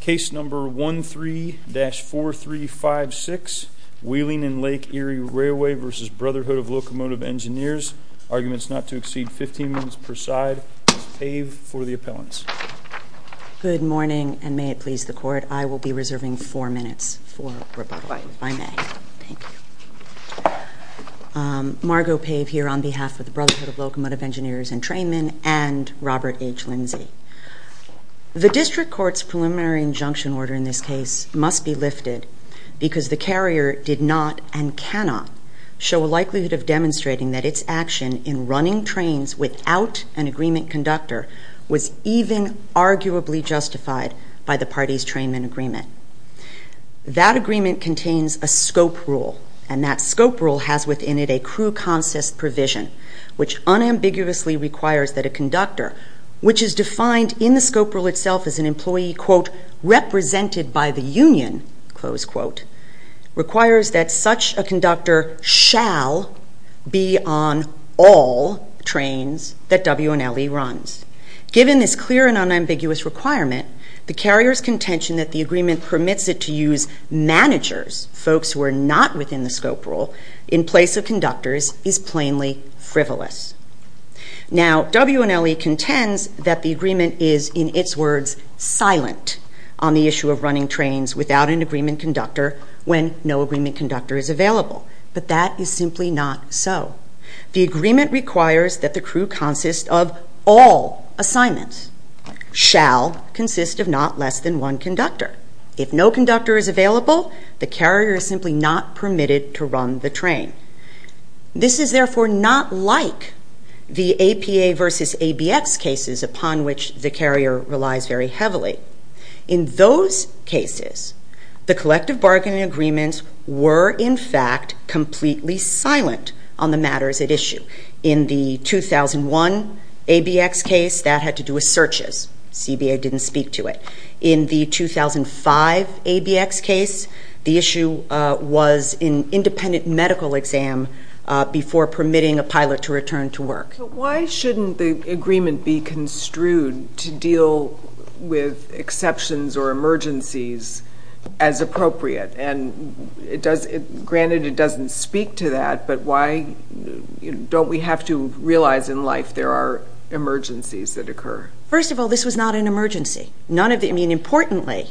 Case number 13-4356, Wheeling and Lake Erie Railway v. Brotherhood of Locomotive Engineers. Arguments not to exceed 15 minutes per side. Ms. Pave for the appellants. Good morning, and may it please the court, I will be reserving four minutes for rebuttal. I may. Thank you. Margo Pave here on behalf of the Brotherhood of Locomotive Engineers and Trainmen and Robert H. Lindsay. The district court's preliminary injunction order in this case must be lifted because the carrier did not and cannot show a likelihood of demonstrating that its action in running trains without an agreement conductor was even arguably justified by the party's trainmen agreement. That agreement contains a scope rule, and that scope rule has within it a crew consist provision which unambiguously requires that a conductor, which is defined in the scope rule itself as an employee quote, represented by the union, close quote, requires that such a conductor shall be on all trains that W&LE runs. Given this clear and unambiguous requirement, the carrier's contention that the agreement permits it to use managers, folks who are not within the scope rule, in place of conductors is plainly frivolous. Now, W&LE contends that the agreement is, in its words, silent on the issue of running trains without an agreement conductor when no agreement conductor is available, but that is simply not so. The agreement requires that the crew consist of all assignments, shall consist of not less than one conductor. If no conductor is available, the carrier is simply not permitted to run the train. This is therefore not like the APA versus ABX cases upon which the carrier relies very heavily. In those cases, the collective bargaining agreements were, in fact, completely silent on the matters at issue. In the 2001 ABX case, that had to do with searches. CBA didn't speak to it. In the 2005 ABX case, the issue was an independent medical exam before permitting a pilot to return to work. Why shouldn't the agreement be construed to deal with exceptions or emergencies as appropriate? Granted, it doesn't speak to that, but why don't we have to realize in life there are emergencies that occur? First of all, this was not an emergency. Importantly,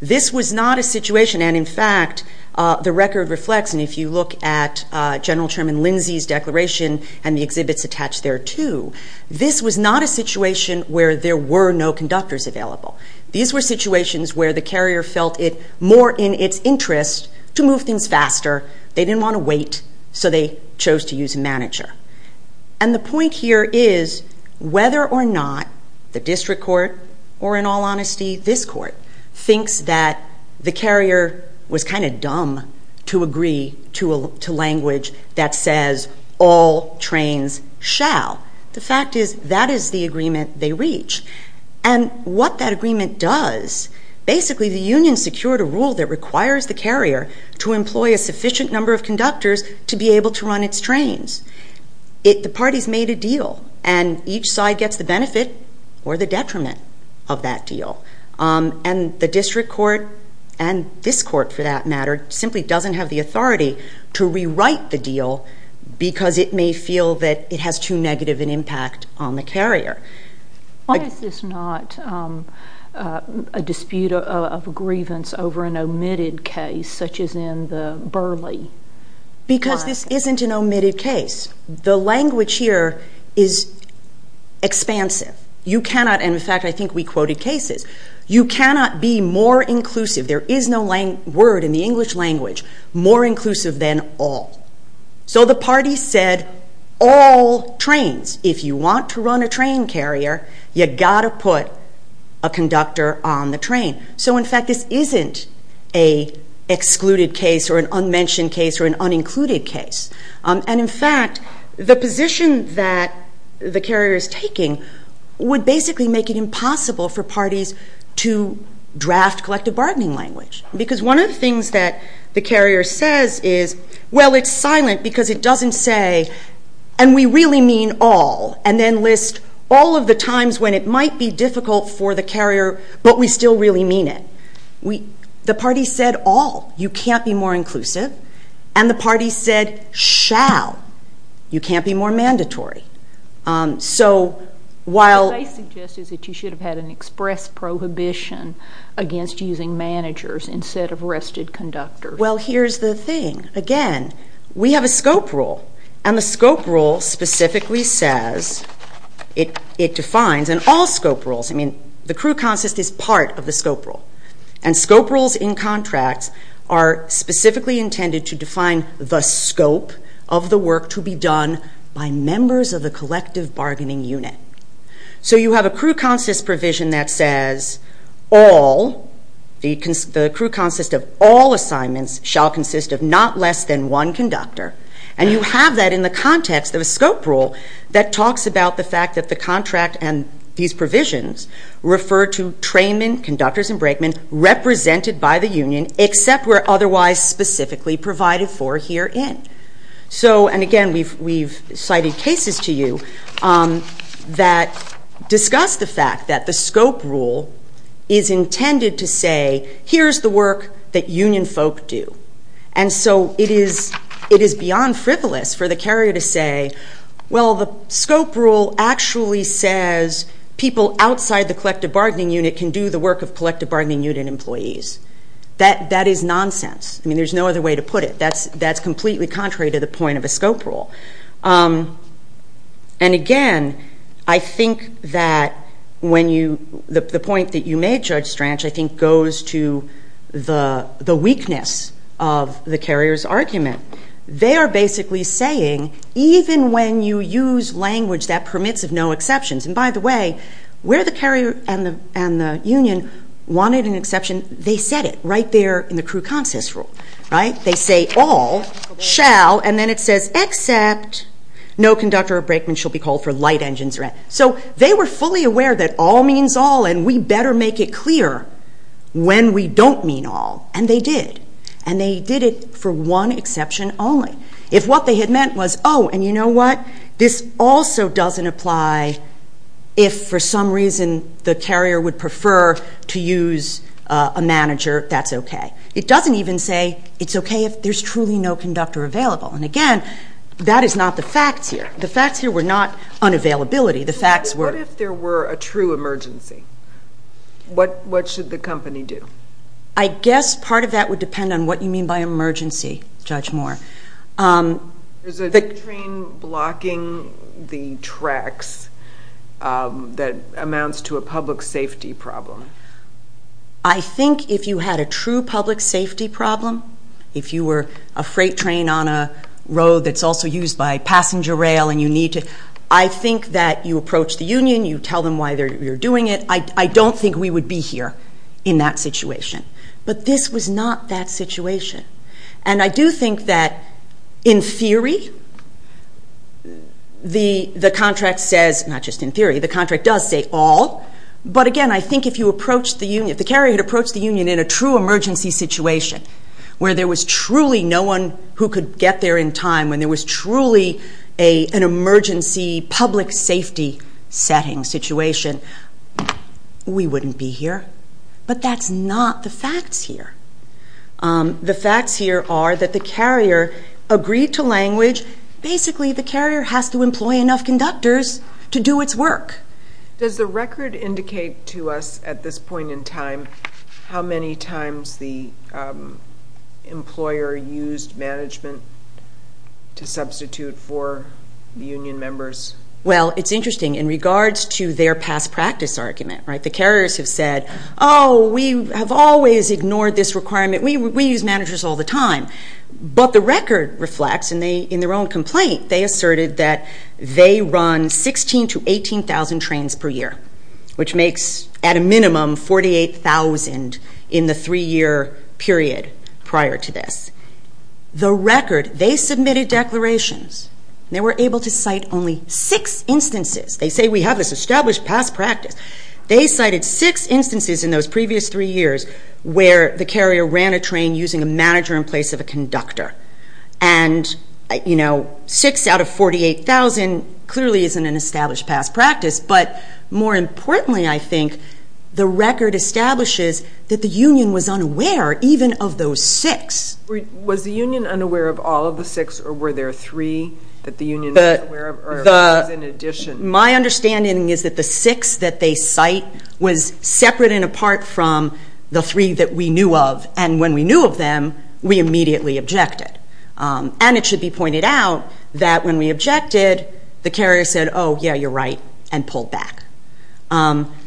this was not a situation, and in fact, the record reflects, and if you look at General Chairman Lindsay's declaration and the exhibits attached there too, this was not a situation where there were no conductors available. These were situations where the carrier felt it more in its interest to move things faster. They didn't want to wait, so they chose to use a manager. And the point here is whether or not the district court, or in all honesty, this court, thinks that the carrier was kind of dumb to agree to language that says all trains shall. The fact is that is the agreement they reach. And what that agreement does, basically the union secured a rule that requires the carrier to employ a sufficient number of conductors to be able to run its trains. The parties made a deal, and each side gets the benefit or the detriment of that deal. And the district court, and this court for that matter, simply doesn't have the authority to rewrite the deal because it may feel that it has too negative an impact on the carrier. Why is this not a dispute of grievance over an omitted case such as in the Burley? Because this isn't an omitted case. The language here is expansive. You cannot, and in fact I think we quoted cases, you cannot be more inclusive, there is no word in the English language, more inclusive than all. So the parties said all trains, if you want to run a train carrier, you've got to put a conductor on the train. So in fact this isn't an excluded case or an unmentioned case or an unincluded case. And in fact, the position that the carrier is taking would basically make it impossible for parties to draft collective bargaining language. Because one of the things that the carrier says is, well, it's silent because it doesn't say, and we really mean all, and then list all of the times when it might be difficult for the carrier, but we still really mean it. The parties said all, you can't be more inclusive. And the parties said shall, you can't be more mandatory. So while- What I suggest is that you should have had an express prohibition against using managers instead of arrested conductors. Well, here's the thing. Again, we have a scope rule, and the scope rule specifically says, it defines, and all scope rules, I mean the crew consist is part of the scope rule. And scope rules in contracts are specifically intended to define the scope of the work to be done by members of the collective bargaining unit. So you have a crew consist provision that says, all, the crew consist of all assignments shall consist of not less than one conductor. And you have that in the context of a scope rule that talks about the fact that the contract and these provisions refer to traymen, conductors, and brakemen represented by the union, except where otherwise specifically provided for herein. So, and again, we've cited cases to you that discuss the fact that the scope rule is intended to say, here's the work that union folk do. And so it is beyond frivolous for the carrier to say, well, the scope rule actually says, people outside the collective bargaining unit can do the work of collective bargaining unit employees. That is nonsense. I mean, there's no other way to put it. That's completely contrary to the point of a scope rule. And again, I think that when you, the point that you made, Judge Stranch, I think goes to the weakness of the carrier's argument. They are basically saying, even when you use language that permits of no exceptions, and by the way, where the carrier and the union wanted an exception, they said it right there in the crew consist rule, right? They say, all shall, and then it says, except no conductor or brakeman shall be called for light engines. So they were fully aware that all means all, and we better make it clear when we don't mean all. And they did. And they did it for one exception only. If what they had meant was, oh, and you know what? This also doesn't apply if for some reason the carrier would prefer to use a manager, that's okay. It doesn't even say it's okay if there's truly no conductor available. And again, that is not the facts here. The facts here were not unavailability. The facts were. What if there were a true emergency? What should the company do? I guess part of that would depend on what you mean by emergency, Judge Moore. Is a train blocking the tracks that amounts to a public safety problem? I think if you had a true public safety problem, if you were a freight train on a road that's also used by passenger rail and you need to, I think that you approach the union, you tell them why you're doing it. I don't think we would be here in that situation. But this was not that situation. And I do think that in theory, the contract says, not just in theory, the contract does say all. But again, I think if the carrier had approached the union in a true emergency situation where there was truly no one who could get there in time, when there was truly an emergency public safety setting situation, we wouldn't be here. But that's not the facts here. The facts here are that the carrier agreed to language. Basically, the carrier has to employ enough conductors to do its work. Does the record indicate to us at this point in time how many times the employer used management to substitute for the union members? Well, it's interesting in regards to their past practice argument. The carriers have said, oh, we have always ignored this requirement. We use managers all the time. But the record reflects, in their own complaint, they asserted that they run 16,000 to 18,000 trains per year, which makes at a minimum 48,000 in the three-year period prior to this. The record, they submitted declarations. They were able to cite only six instances. They say we have this established past practice. They cited six instances in those previous three years where the carrier ran a train using a manager in place of a conductor. And, you know, six out of 48,000 clearly isn't an established past practice. But more importantly, I think, the record establishes that the union was unaware even of those six. Was the union unaware of all of the six, or were there three that the union was aware of, or was in addition? My understanding is that the six that they cite was separate and apart from the three that we knew of. And when we knew of them, we immediately objected. And it should be pointed out that when we objected, the carrier said, oh, yeah, you're right, and pulled back.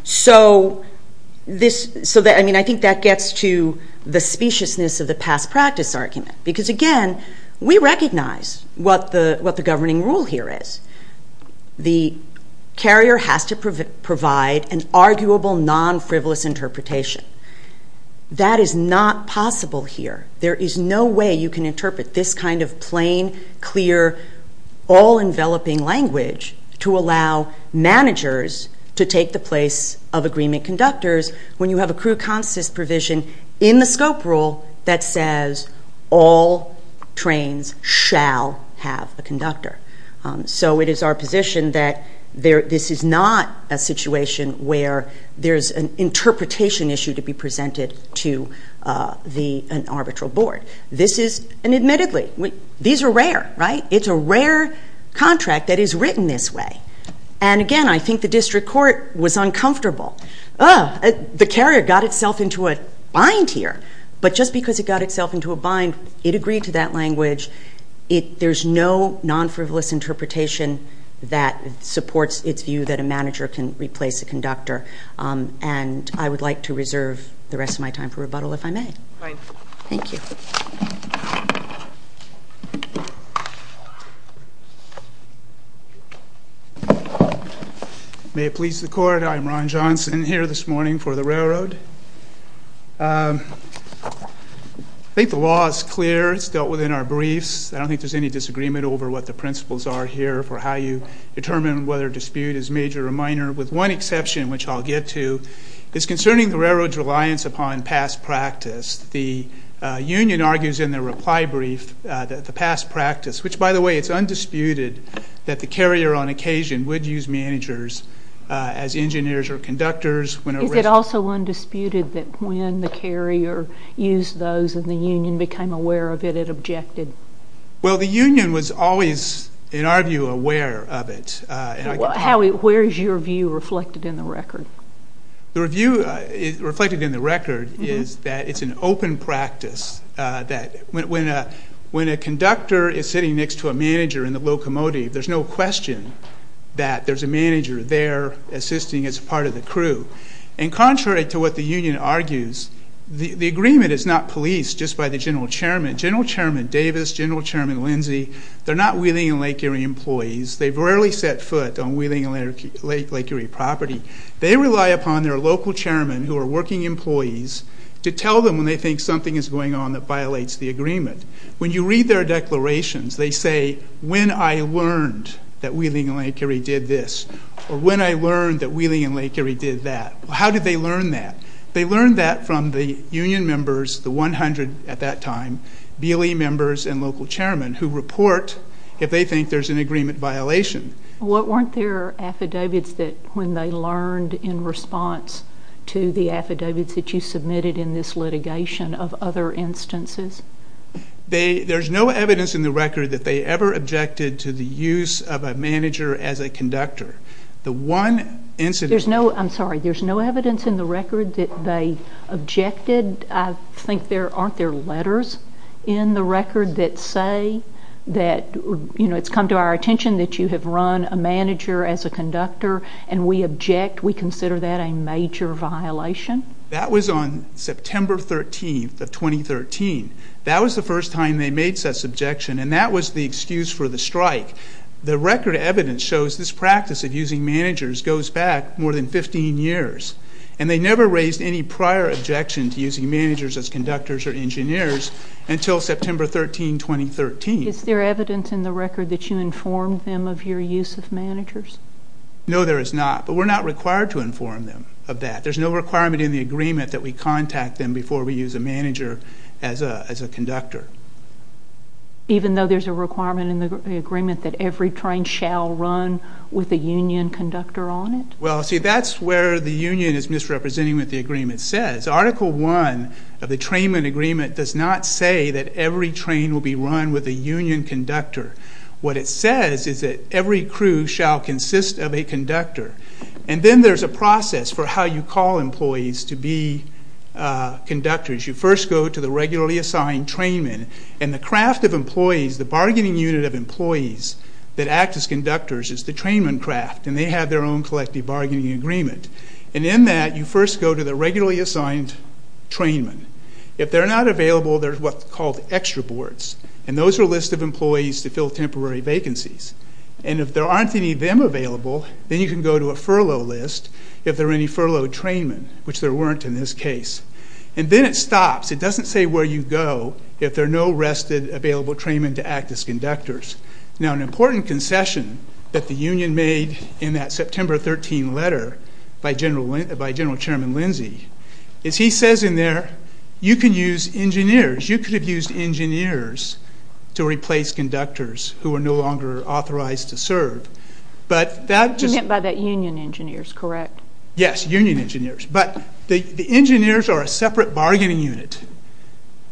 So, I mean, I think that gets to the speciousness of the past practice argument. Because, again, we recognize what the governing rule here is. The carrier has to provide an arguable, non-frivolous interpretation. That is not possible here. There is no way you can interpret this kind of plain, clear, all-enveloping language to allow managers to take the place of agreement conductors when you have a crew consist provision in the scope rule that says all trains shall have a conductor. So it is our position that this is not a situation where there's an interpretation issue to be presented to an arbitral board. This is, and admittedly, these are rare, right? It's a rare contract that is written this way. And, again, I think the district court was uncomfortable. Oh, the carrier got itself into a bind here. But just because it got itself into a bind, it agreed to that language. There's no non-frivolous interpretation that supports its view that a manager can replace a conductor. And I would like to reserve the rest of my time for rebuttal if I may. Thank you. May it please the court, I'm Ron Johnson here this morning for the railroad. I think the law is clear. It's dealt with in our briefs. I don't think there's any disagreement over what the principles are here for how you determine whether a dispute is major or minor, with one exception, which I'll get to, is concerning the railroad's reliance upon past practice. The union argues in their reply brief that the past practice, which, by the way, it's undisputed that the carrier on occasion would use managers as engineers or conductors. Is it also undisputed that when the carrier used those and the union became aware of it, it objected? Well, the union was always, in our view, aware of it. Where is your view reflected in the record? The view reflected in the record is that it's an open practice, that when a conductor is sitting next to a manager in the locomotive, there's no question that there's a manager there assisting as part of the crew. And contrary to what the union argues, the agreement is not policed just by the general chairman. General Chairman Davis, General Chairman Lindsey, they're not Wheeling and Lake Erie employees. They've rarely set foot on Wheeling and Lake Erie property. They rely upon their local chairman, who are working employees, to tell them when they think something is going on that violates the agreement. When you read their declarations, they say, when I learned that Wheeling and Lake Erie did this, or when I learned that Wheeling and Lake Erie did that. How did they learn that? They learned that from the union members, the 100 at that time, BLE members and local chairman, who report if they think there's an agreement violation. Weren't there affidavits that, when they learned in response to the affidavits that you submitted in this litigation, of other instances? There's no evidence in the record that they ever objected to the use of a manager as a conductor. There's no evidence in the record that they objected. And I think, aren't there letters in the record that say that it's come to our attention that you have run a manager as a conductor, and we object, we consider that a major violation? That was on September 13th of 2013. That was the first time they made such an objection, and that was the excuse for the strike. The record evidence shows this practice of using managers goes back more than 15 years, and they never raised any prior objection to using managers as conductors or engineers until September 13, 2013. Is there evidence in the record that you informed them of your use of managers? No, there is not, but we're not required to inform them of that. There's no requirement in the agreement that we contact them before we use a manager as a conductor. Even though there's a requirement in the agreement that every train shall run with a union conductor on it? Well, see, that's where the union is misrepresenting what the agreement says. Article 1 of the trainman agreement does not say that every train will be run with a union conductor. What it says is that every crew shall consist of a conductor. And then there's a process for how you call employees to be conductors. You first go to the regularly assigned trainman, and the craft of employees, the bargaining unit of employees that act as conductors is the trainman craft, and they have their own collective bargaining agreement. And in that, you first go to the regularly assigned trainman. If they're not available, there's what's called extra boards, and those are a list of employees to fill temporary vacancies. And if there aren't any of them available, then you can go to a furlough list if there are any furloughed trainmen, which there weren't in this case. And then it stops. It doesn't say where you go if there are no rested available trainmen to act as conductors. Now, an important concession that the union made in that September 13 letter by General Chairman Lindsey is he says in there, you can use engineers. You could have used engineers to replace conductors who are no longer authorized to serve. You meant by that union engineers, correct? Yes, union engineers. But the engineers are a separate bargaining unit.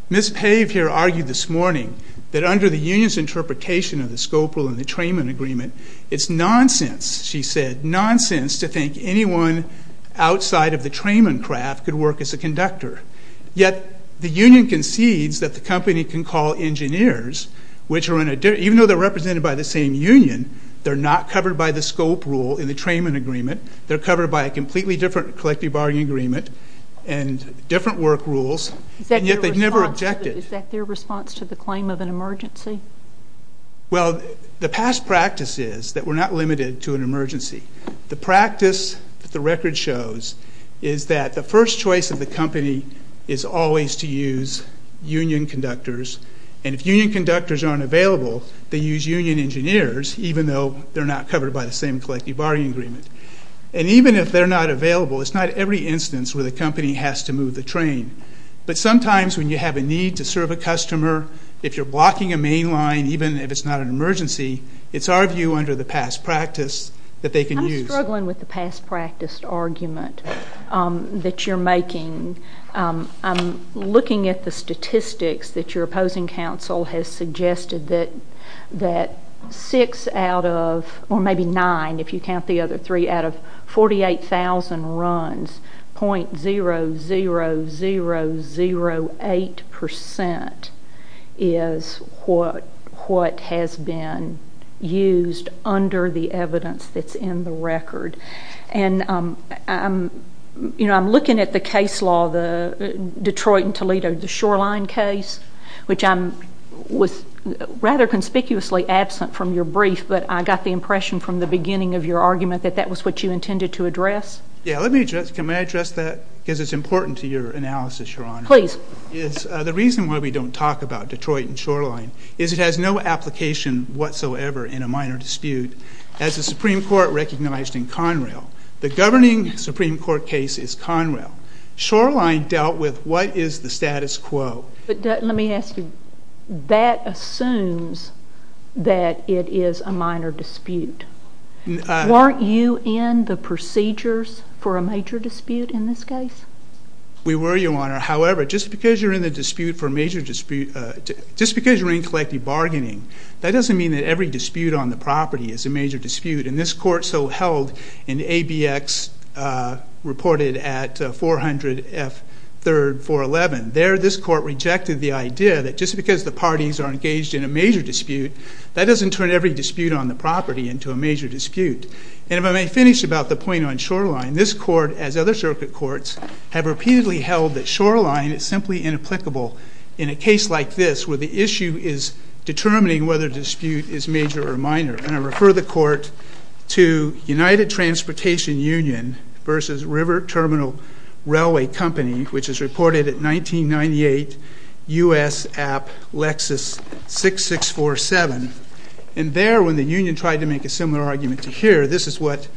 Ms. Pave here argued this morning that under the union's interpretation of the scope rule in the trainman agreement, it's nonsense, she said, nonsense to think anyone outside of the trainman craft could work as a conductor. Yet the union concedes that the company can call engineers, which are in a different, even though they're represented by the same union, they're not covered by the scope rule in the trainman agreement. They're covered by a completely different collective bargaining agreement and different work rules, and yet they never objected. Is that their response to the claim of an emergency? Well, the past practice is that we're not limited to an emergency. The practice that the record shows is that the first choice of the company is always to use union conductors, and if union conductors aren't available, they use union engineers, even though they're not covered by the same collective bargaining agreement. And even if they're not available, it's not every instance where the company has to move the train. But sometimes when you have a need to serve a customer, if you're blocking a main line, even if it's not an emergency, it's our view under the past practice that they can use. I'm struggling with the past practice argument that you're making. I'm looking at the statistics that your opposing counsel has suggested that six out of, or maybe nine if you count the other three, out of 48,000 runs, .00008% is what has been used under the evidence that's in the record. And I'm looking at the case law, the Detroit and Toledo Shoreline case, which I was rather conspicuously absent from your brief, but I got the impression from the beginning of your argument that that was what you intended to address. Yeah, let me address that because it's important to your analysis, Your Honor. Please. The reason why we don't talk about Detroit and Shoreline is it has no application whatsoever in a minor dispute. As the Supreme Court recognized in Conrail, the governing Supreme Court case is Conrail. Shoreline dealt with what is the status quo. But let me ask you, that assumes that it is a minor dispute. Weren't you in the procedures for a major dispute in this case? We were, Your Honor. However, just because you're in the dispute for a major dispute, just because you're in collective bargaining, that doesn't mean that every dispute on the property is a major dispute. And this court so held in ABX reported at 400 F. 3rd. 411. There, this court rejected the idea that just because the parties are engaged in a major dispute, that doesn't turn every dispute on the property into a major dispute. And if I may finish about the point on Shoreline, this court, as other circuit courts, have repeatedly held that Shoreline is simply inapplicable in a case like this where the issue is determining whether dispute is major or minor. And I refer the court to United Transportation Union versus River Terminal Railway Company, which is reported at 1998 U.S. App. Lexus 6647. And there, when the union tried to make a similar argument to here, this is what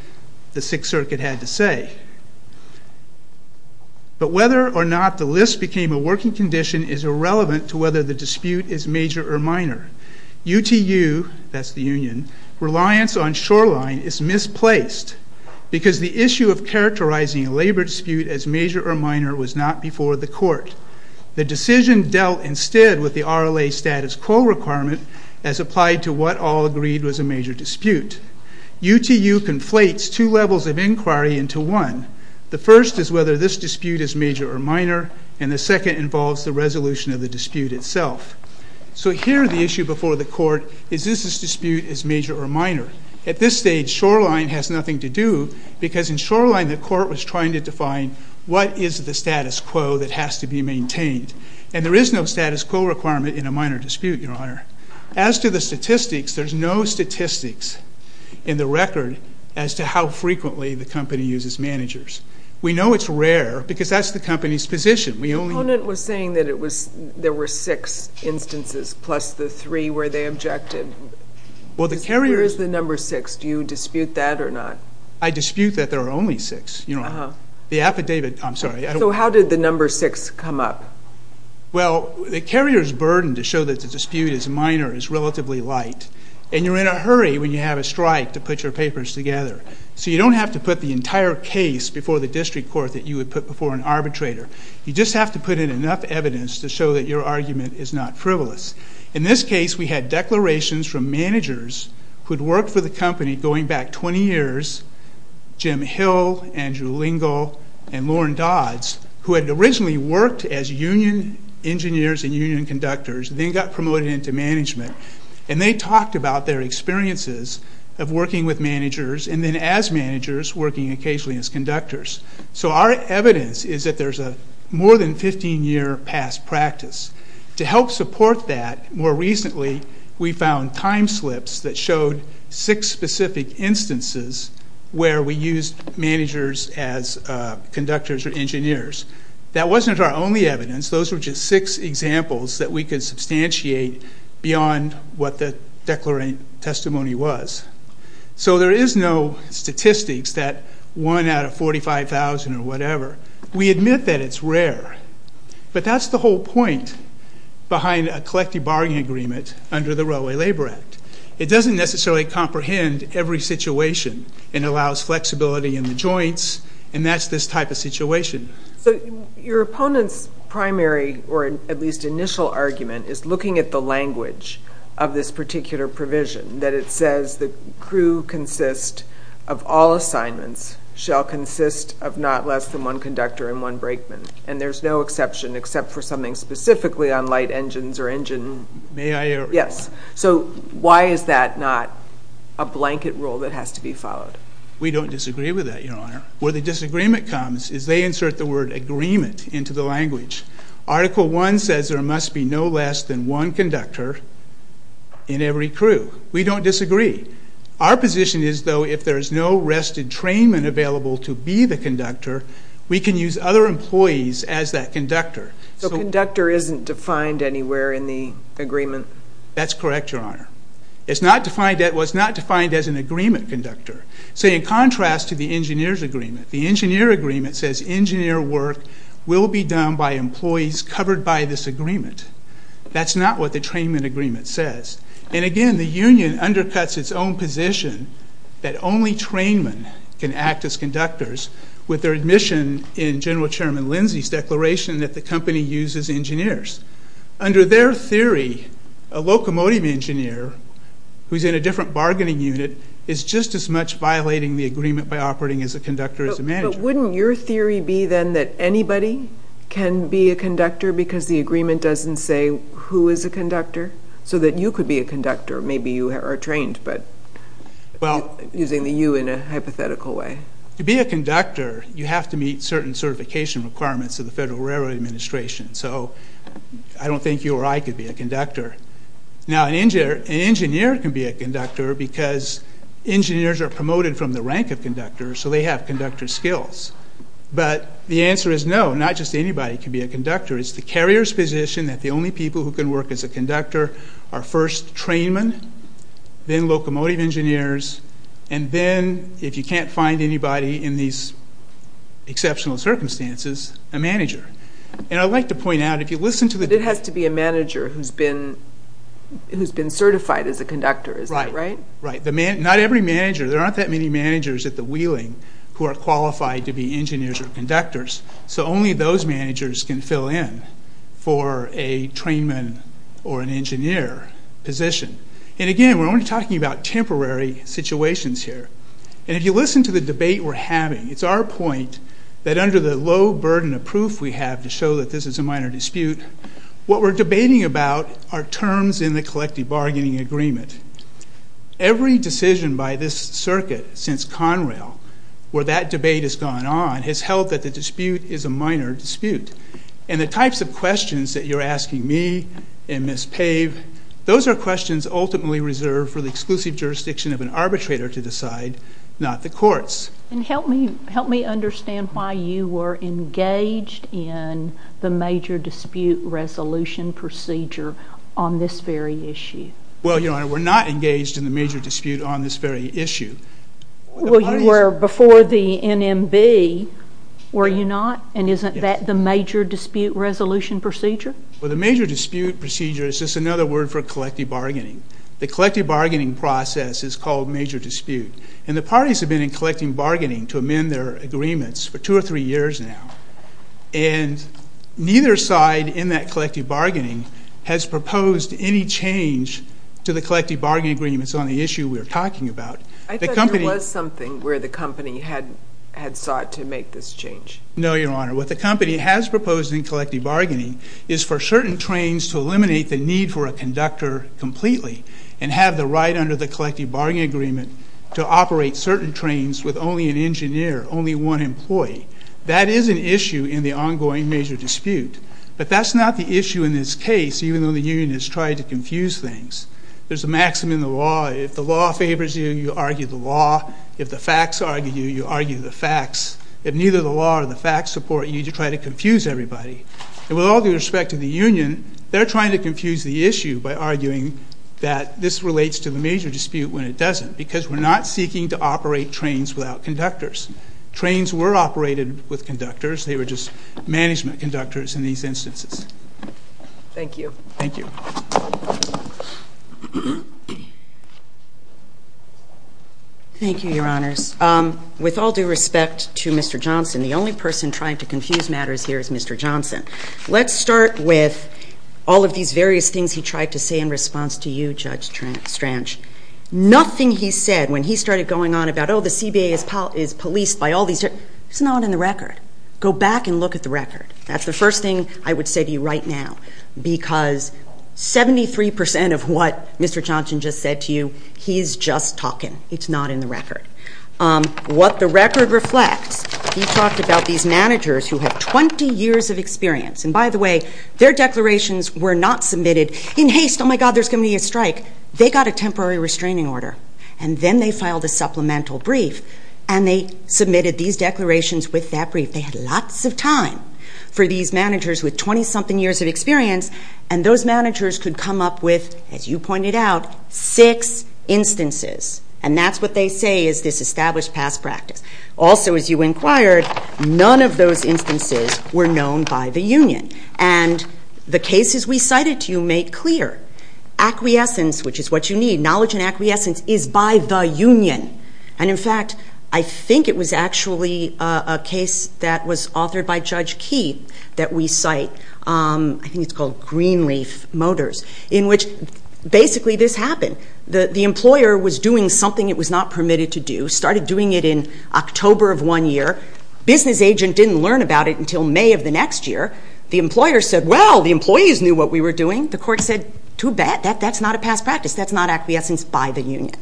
the Sixth Circuit had to say. But whether or not the list became a working condition is irrelevant to whether the dispute is major or minor. UTU, that's the union, reliance on Shoreline is misplaced because the issue of characterizing a labor dispute as major or minor was not before the court. The decision dealt instead with the RLA status quo requirement as applied to what all agreed was a major dispute. UTU conflates two levels of inquiry into one. The first is whether this dispute is major or minor, and the second involves the resolution of the dispute itself. So here the issue before the court is this dispute is major or minor. At this stage Shoreline has nothing to do because in Shoreline the court was trying to define what is the status quo that has to be maintained. And there is no status quo requirement in a minor dispute, Your Honor. As to the statistics, there's no statistics in the record as to how frequently the company uses managers. We know it's rare because that's the company's position. The opponent was saying that there were six instances plus the three where they objected. Where is the number six? Do you dispute that or not? I dispute that there are only six. So how did the number six come up? Well, the carrier's burden to show that the dispute is minor is relatively light, and you're in a hurry when you have a strike to put your papers together. So you don't have to put the entire case before the district court that you would put before an arbitrator. You just have to put in enough evidence to show that your argument is not frivolous. In this case we had declarations from managers who had worked for the company going back 20 years, Jim Hill, Andrew Lingle, and Lauren Dodds, who had originally worked as union engineers and union conductors and then got promoted into management. And they talked about their experiences of working with managers and then as managers working occasionally as conductors. So our evidence is that there's a more than 15-year past practice. To help support that, more recently we found time slips that showed six specific instances where we used managers as conductors or engineers. That wasn't our only evidence. Those were just six examples that we could substantiate beyond what the declarant testimony was. So there is no statistics that one out of 45,000 or whatever. We admit that it's rare. But that's the whole point behind a collective bargaining agreement under the Railway Labor Act. It doesn't necessarily comprehend every situation. It allows flexibility in the joints, and that's this type of situation. So your opponent's primary or at least initial argument is looking at the language of this particular provision, that it says the crew consist of all assignments shall consist of not less than one conductor and one brakeman. And there's no exception except for something specifically on light engines or engine. May I? Yes. So why is that not a blanket rule that has to be followed? We don't disagree with that, Your Honor. Where the disagreement comes is they insert the word agreement into the language. Article 1 says there must be no less than one conductor in every crew. We don't disagree. Our position is, though, if there's no rested trainment available to be the conductor, we can use other employees as that conductor. So conductor isn't defined anywhere in the agreement? That's correct, Your Honor. It's not defined as an agreement conductor. So in contrast to the engineer's agreement, the engineer agreement says engineer work will be done by employees covered by this agreement. That's not what the trainment agreement says. And, again, the union undercuts its own position that only trainmen can act as conductors with their admission in General Chairman Lindsay's declaration that the company uses engineers. Under their theory, a locomotive engineer who's in a different bargaining unit is just as much violating the agreement by operating as a conductor as a manager. But wouldn't your theory be then that anybody can be a conductor because the agreement doesn't say who is a conductor? So that you could be a conductor. Maybe you are trained, but using the you in a hypothetical way. To be a conductor, you have to meet certain certification requirements of the Federal Railroad Administration. So I don't think you or I could be a conductor. Now, an engineer can be a conductor because engineers are promoted from the rank of conductor, so they have conductor skills. But the answer is no, not just anybody can be a conductor. It's the carrier's position that the only people who can work as a conductor are first trainmen, then locomotive engineers, and then, if you can't find anybody in these exceptional circumstances, a manager. And I'd like to point out, if you listen to the... It has to be a manager who's been certified as a conductor, is that right? Right, right. Not every manager, there aren't that many managers at the Wheeling who are qualified to be engineers or conductors. So only those managers can fill in for a trainman or an engineer position. And again, we're only talking about temporary situations here. And if you listen to the debate we're having, it's our point that under the low burden of proof we have to show that this is a minor dispute, what we're debating about are terms in the collective bargaining agreement. Every decision by this circuit since Conrail where that debate has gone on has held that the dispute is a minor dispute. And the types of questions that you're asking me and Ms. Pave, those are questions ultimately reserved for the exclusive jurisdiction of an arbitrator to decide, not the courts. And help me understand why you were engaged in the major dispute resolution procedure on this very issue. Well, Your Honor, we're not engaged in the major dispute on this very issue. Well, you were before the NMB, were you not? And isn't that the major dispute resolution procedure? Well, the major dispute procedure is just another word for collective bargaining. The collective bargaining process is called major dispute. And the parties have been in collective bargaining to amend their agreements for two or three years now. And neither side in that collective bargaining has proposed any change to the collective bargaining agreements on the issue we're talking about. I thought there was something where the company had sought to make this change. No, Your Honor. What the company has proposed in collective bargaining is for certain trains to eliminate the need for a conductor completely and have the right under the collective bargaining agreement to operate certain trains with only an engineer, only one employee. That is an issue in the ongoing major dispute. But that's not the issue in this case, even though the union has tried to confuse things. There's a maxim in the law. If the law favors you, you argue the law. If the facts argue you, you argue the facts. If neither the law or the facts support you, you try to confuse everybody. And with all due respect to the union, they're trying to confuse the issue by arguing that this relates to the major dispute when it doesn't because we're not seeking to operate trains without conductors. Trains were operated with conductors. They were just management conductors in these instances. Thank you. Thank you. Thank you, Your Honors. With all due respect to Mr. Johnson, the only person trying to confuse matters here is Mr. Johnson. Let's start with all of these various things he tried to say in response to you, Judge Stranch. Nothing he said when he started going on about, oh, the CBA is policed by all these people. It's not on the record. Go back and look at the record. That's the first thing I would say to you right now because 73 percent of what Mr. Johnson just said to you, he's just talking. It's not in the record. What the record reflects, he talked about these managers who had 20 years of experience. And by the way, their declarations were not submitted in haste. Oh, my God, there's going to be a strike. They got a temporary restraining order. And then they filed a supplemental brief, and they submitted these declarations with that brief. They had lots of time for these managers with 20-something years of experience, and those managers could come up with, as you pointed out, six instances. And that's what they say is this established past practice. Also, as you inquired, none of those instances were known by the union. And the cases we cited to you make clear acquiescence, which is what you need. Knowledge and acquiescence is by the union. And in fact, I think it was actually a case that was authored by Judge Key that we cite. I think it's called Greenleaf Motors, in which basically this happened. The employer was doing something it was not permitted to do, started doing it in October of one year. Business agent didn't learn about it until May of the next year. The employer said, well, the employees knew what we were doing. The court said, too bad. That's not a past practice. That's not acquiescence by the union.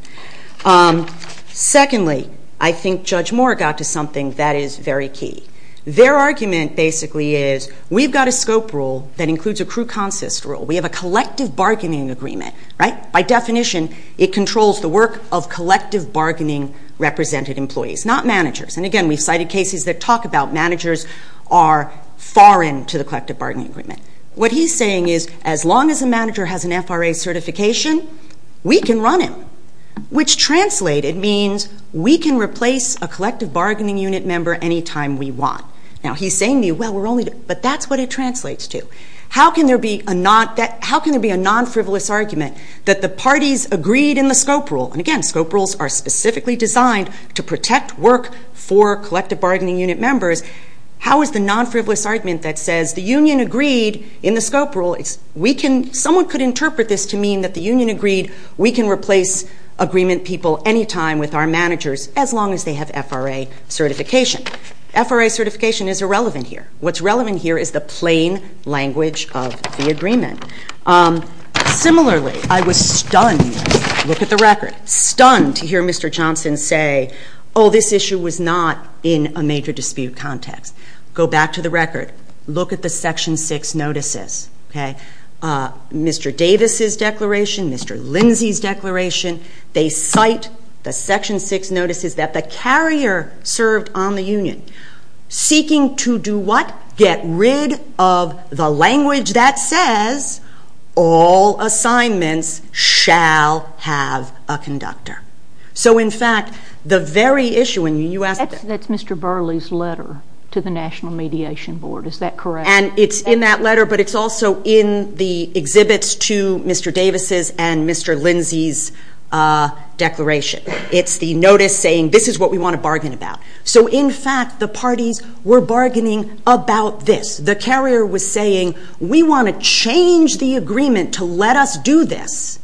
Secondly, I think Judge Moore got to something that is very key. Their argument basically is we've got a scope rule that includes a cru consist rule. We have a collective bargaining agreement, right? By definition, it controls the work of collective bargaining represented employees, not managers. And again, we've cited cases that talk about managers are foreign to the collective bargaining agreement. What he's saying is as long as a manager has an FRA certification, we can run him, which translated means we can replace a collective bargaining unit member any time we want. Now, he's saying to you, well, but that's what it translates to. How can there be a non-frivolous argument that the parties agreed in the scope rule? And again, scope rules are specifically designed to protect work for collective bargaining unit members. How is the non-frivolous argument that says the union agreed in the scope rule? We can, someone could interpret this to mean that the union agreed we can replace agreement people any time with our managers as long as they have FRA certification. FRA certification is irrelevant here. What's relevant here is the plain language of the agreement. Similarly, I was stunned, look at the record, stunned to hear Mr. Johnson say, oh, this issue was not in a major dispute context. Go back to the record. Look at the Section 6 notices. Mr. Davis's declaration, Mr. Lindsey's declaration, they cite the Section 6 notices that the carrier served on the union, seeking to do what? Get rid of the language that says all assignments shall have a conductor. So, in fact, the very issue, and you asked it. That's Mr. Burley's letter to the National Mediation Board, is that correct? And it's in that letter, but it's also in the exhibits to Mr. Davis's and Mr. Lindsey's declaration. It's the notice saying this is what we want to bargain about. So, in fact, the parties were bargaining about this. The carrier was saying we want to change the agreement to let us do this,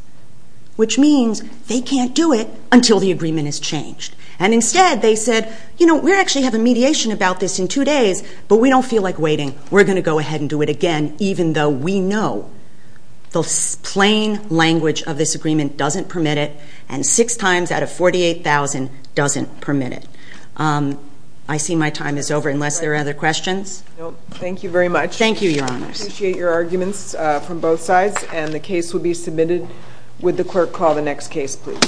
which means they can't do it until the agreement is changed. And instead they said, you know, we actually have a mediation about this in two days, but we don't feel like waiting. We're going to go ahead and do it again, even though we know the plain language of this agreement doesn't permit it, and six times out of 48,000 doesn't permit it. I see my time is over unless there are other questions. Thank you very much. Thank you, Your Honors. I appreciate your arguments from both sides, and the case will be submitted. Would the clerk call the next case, please?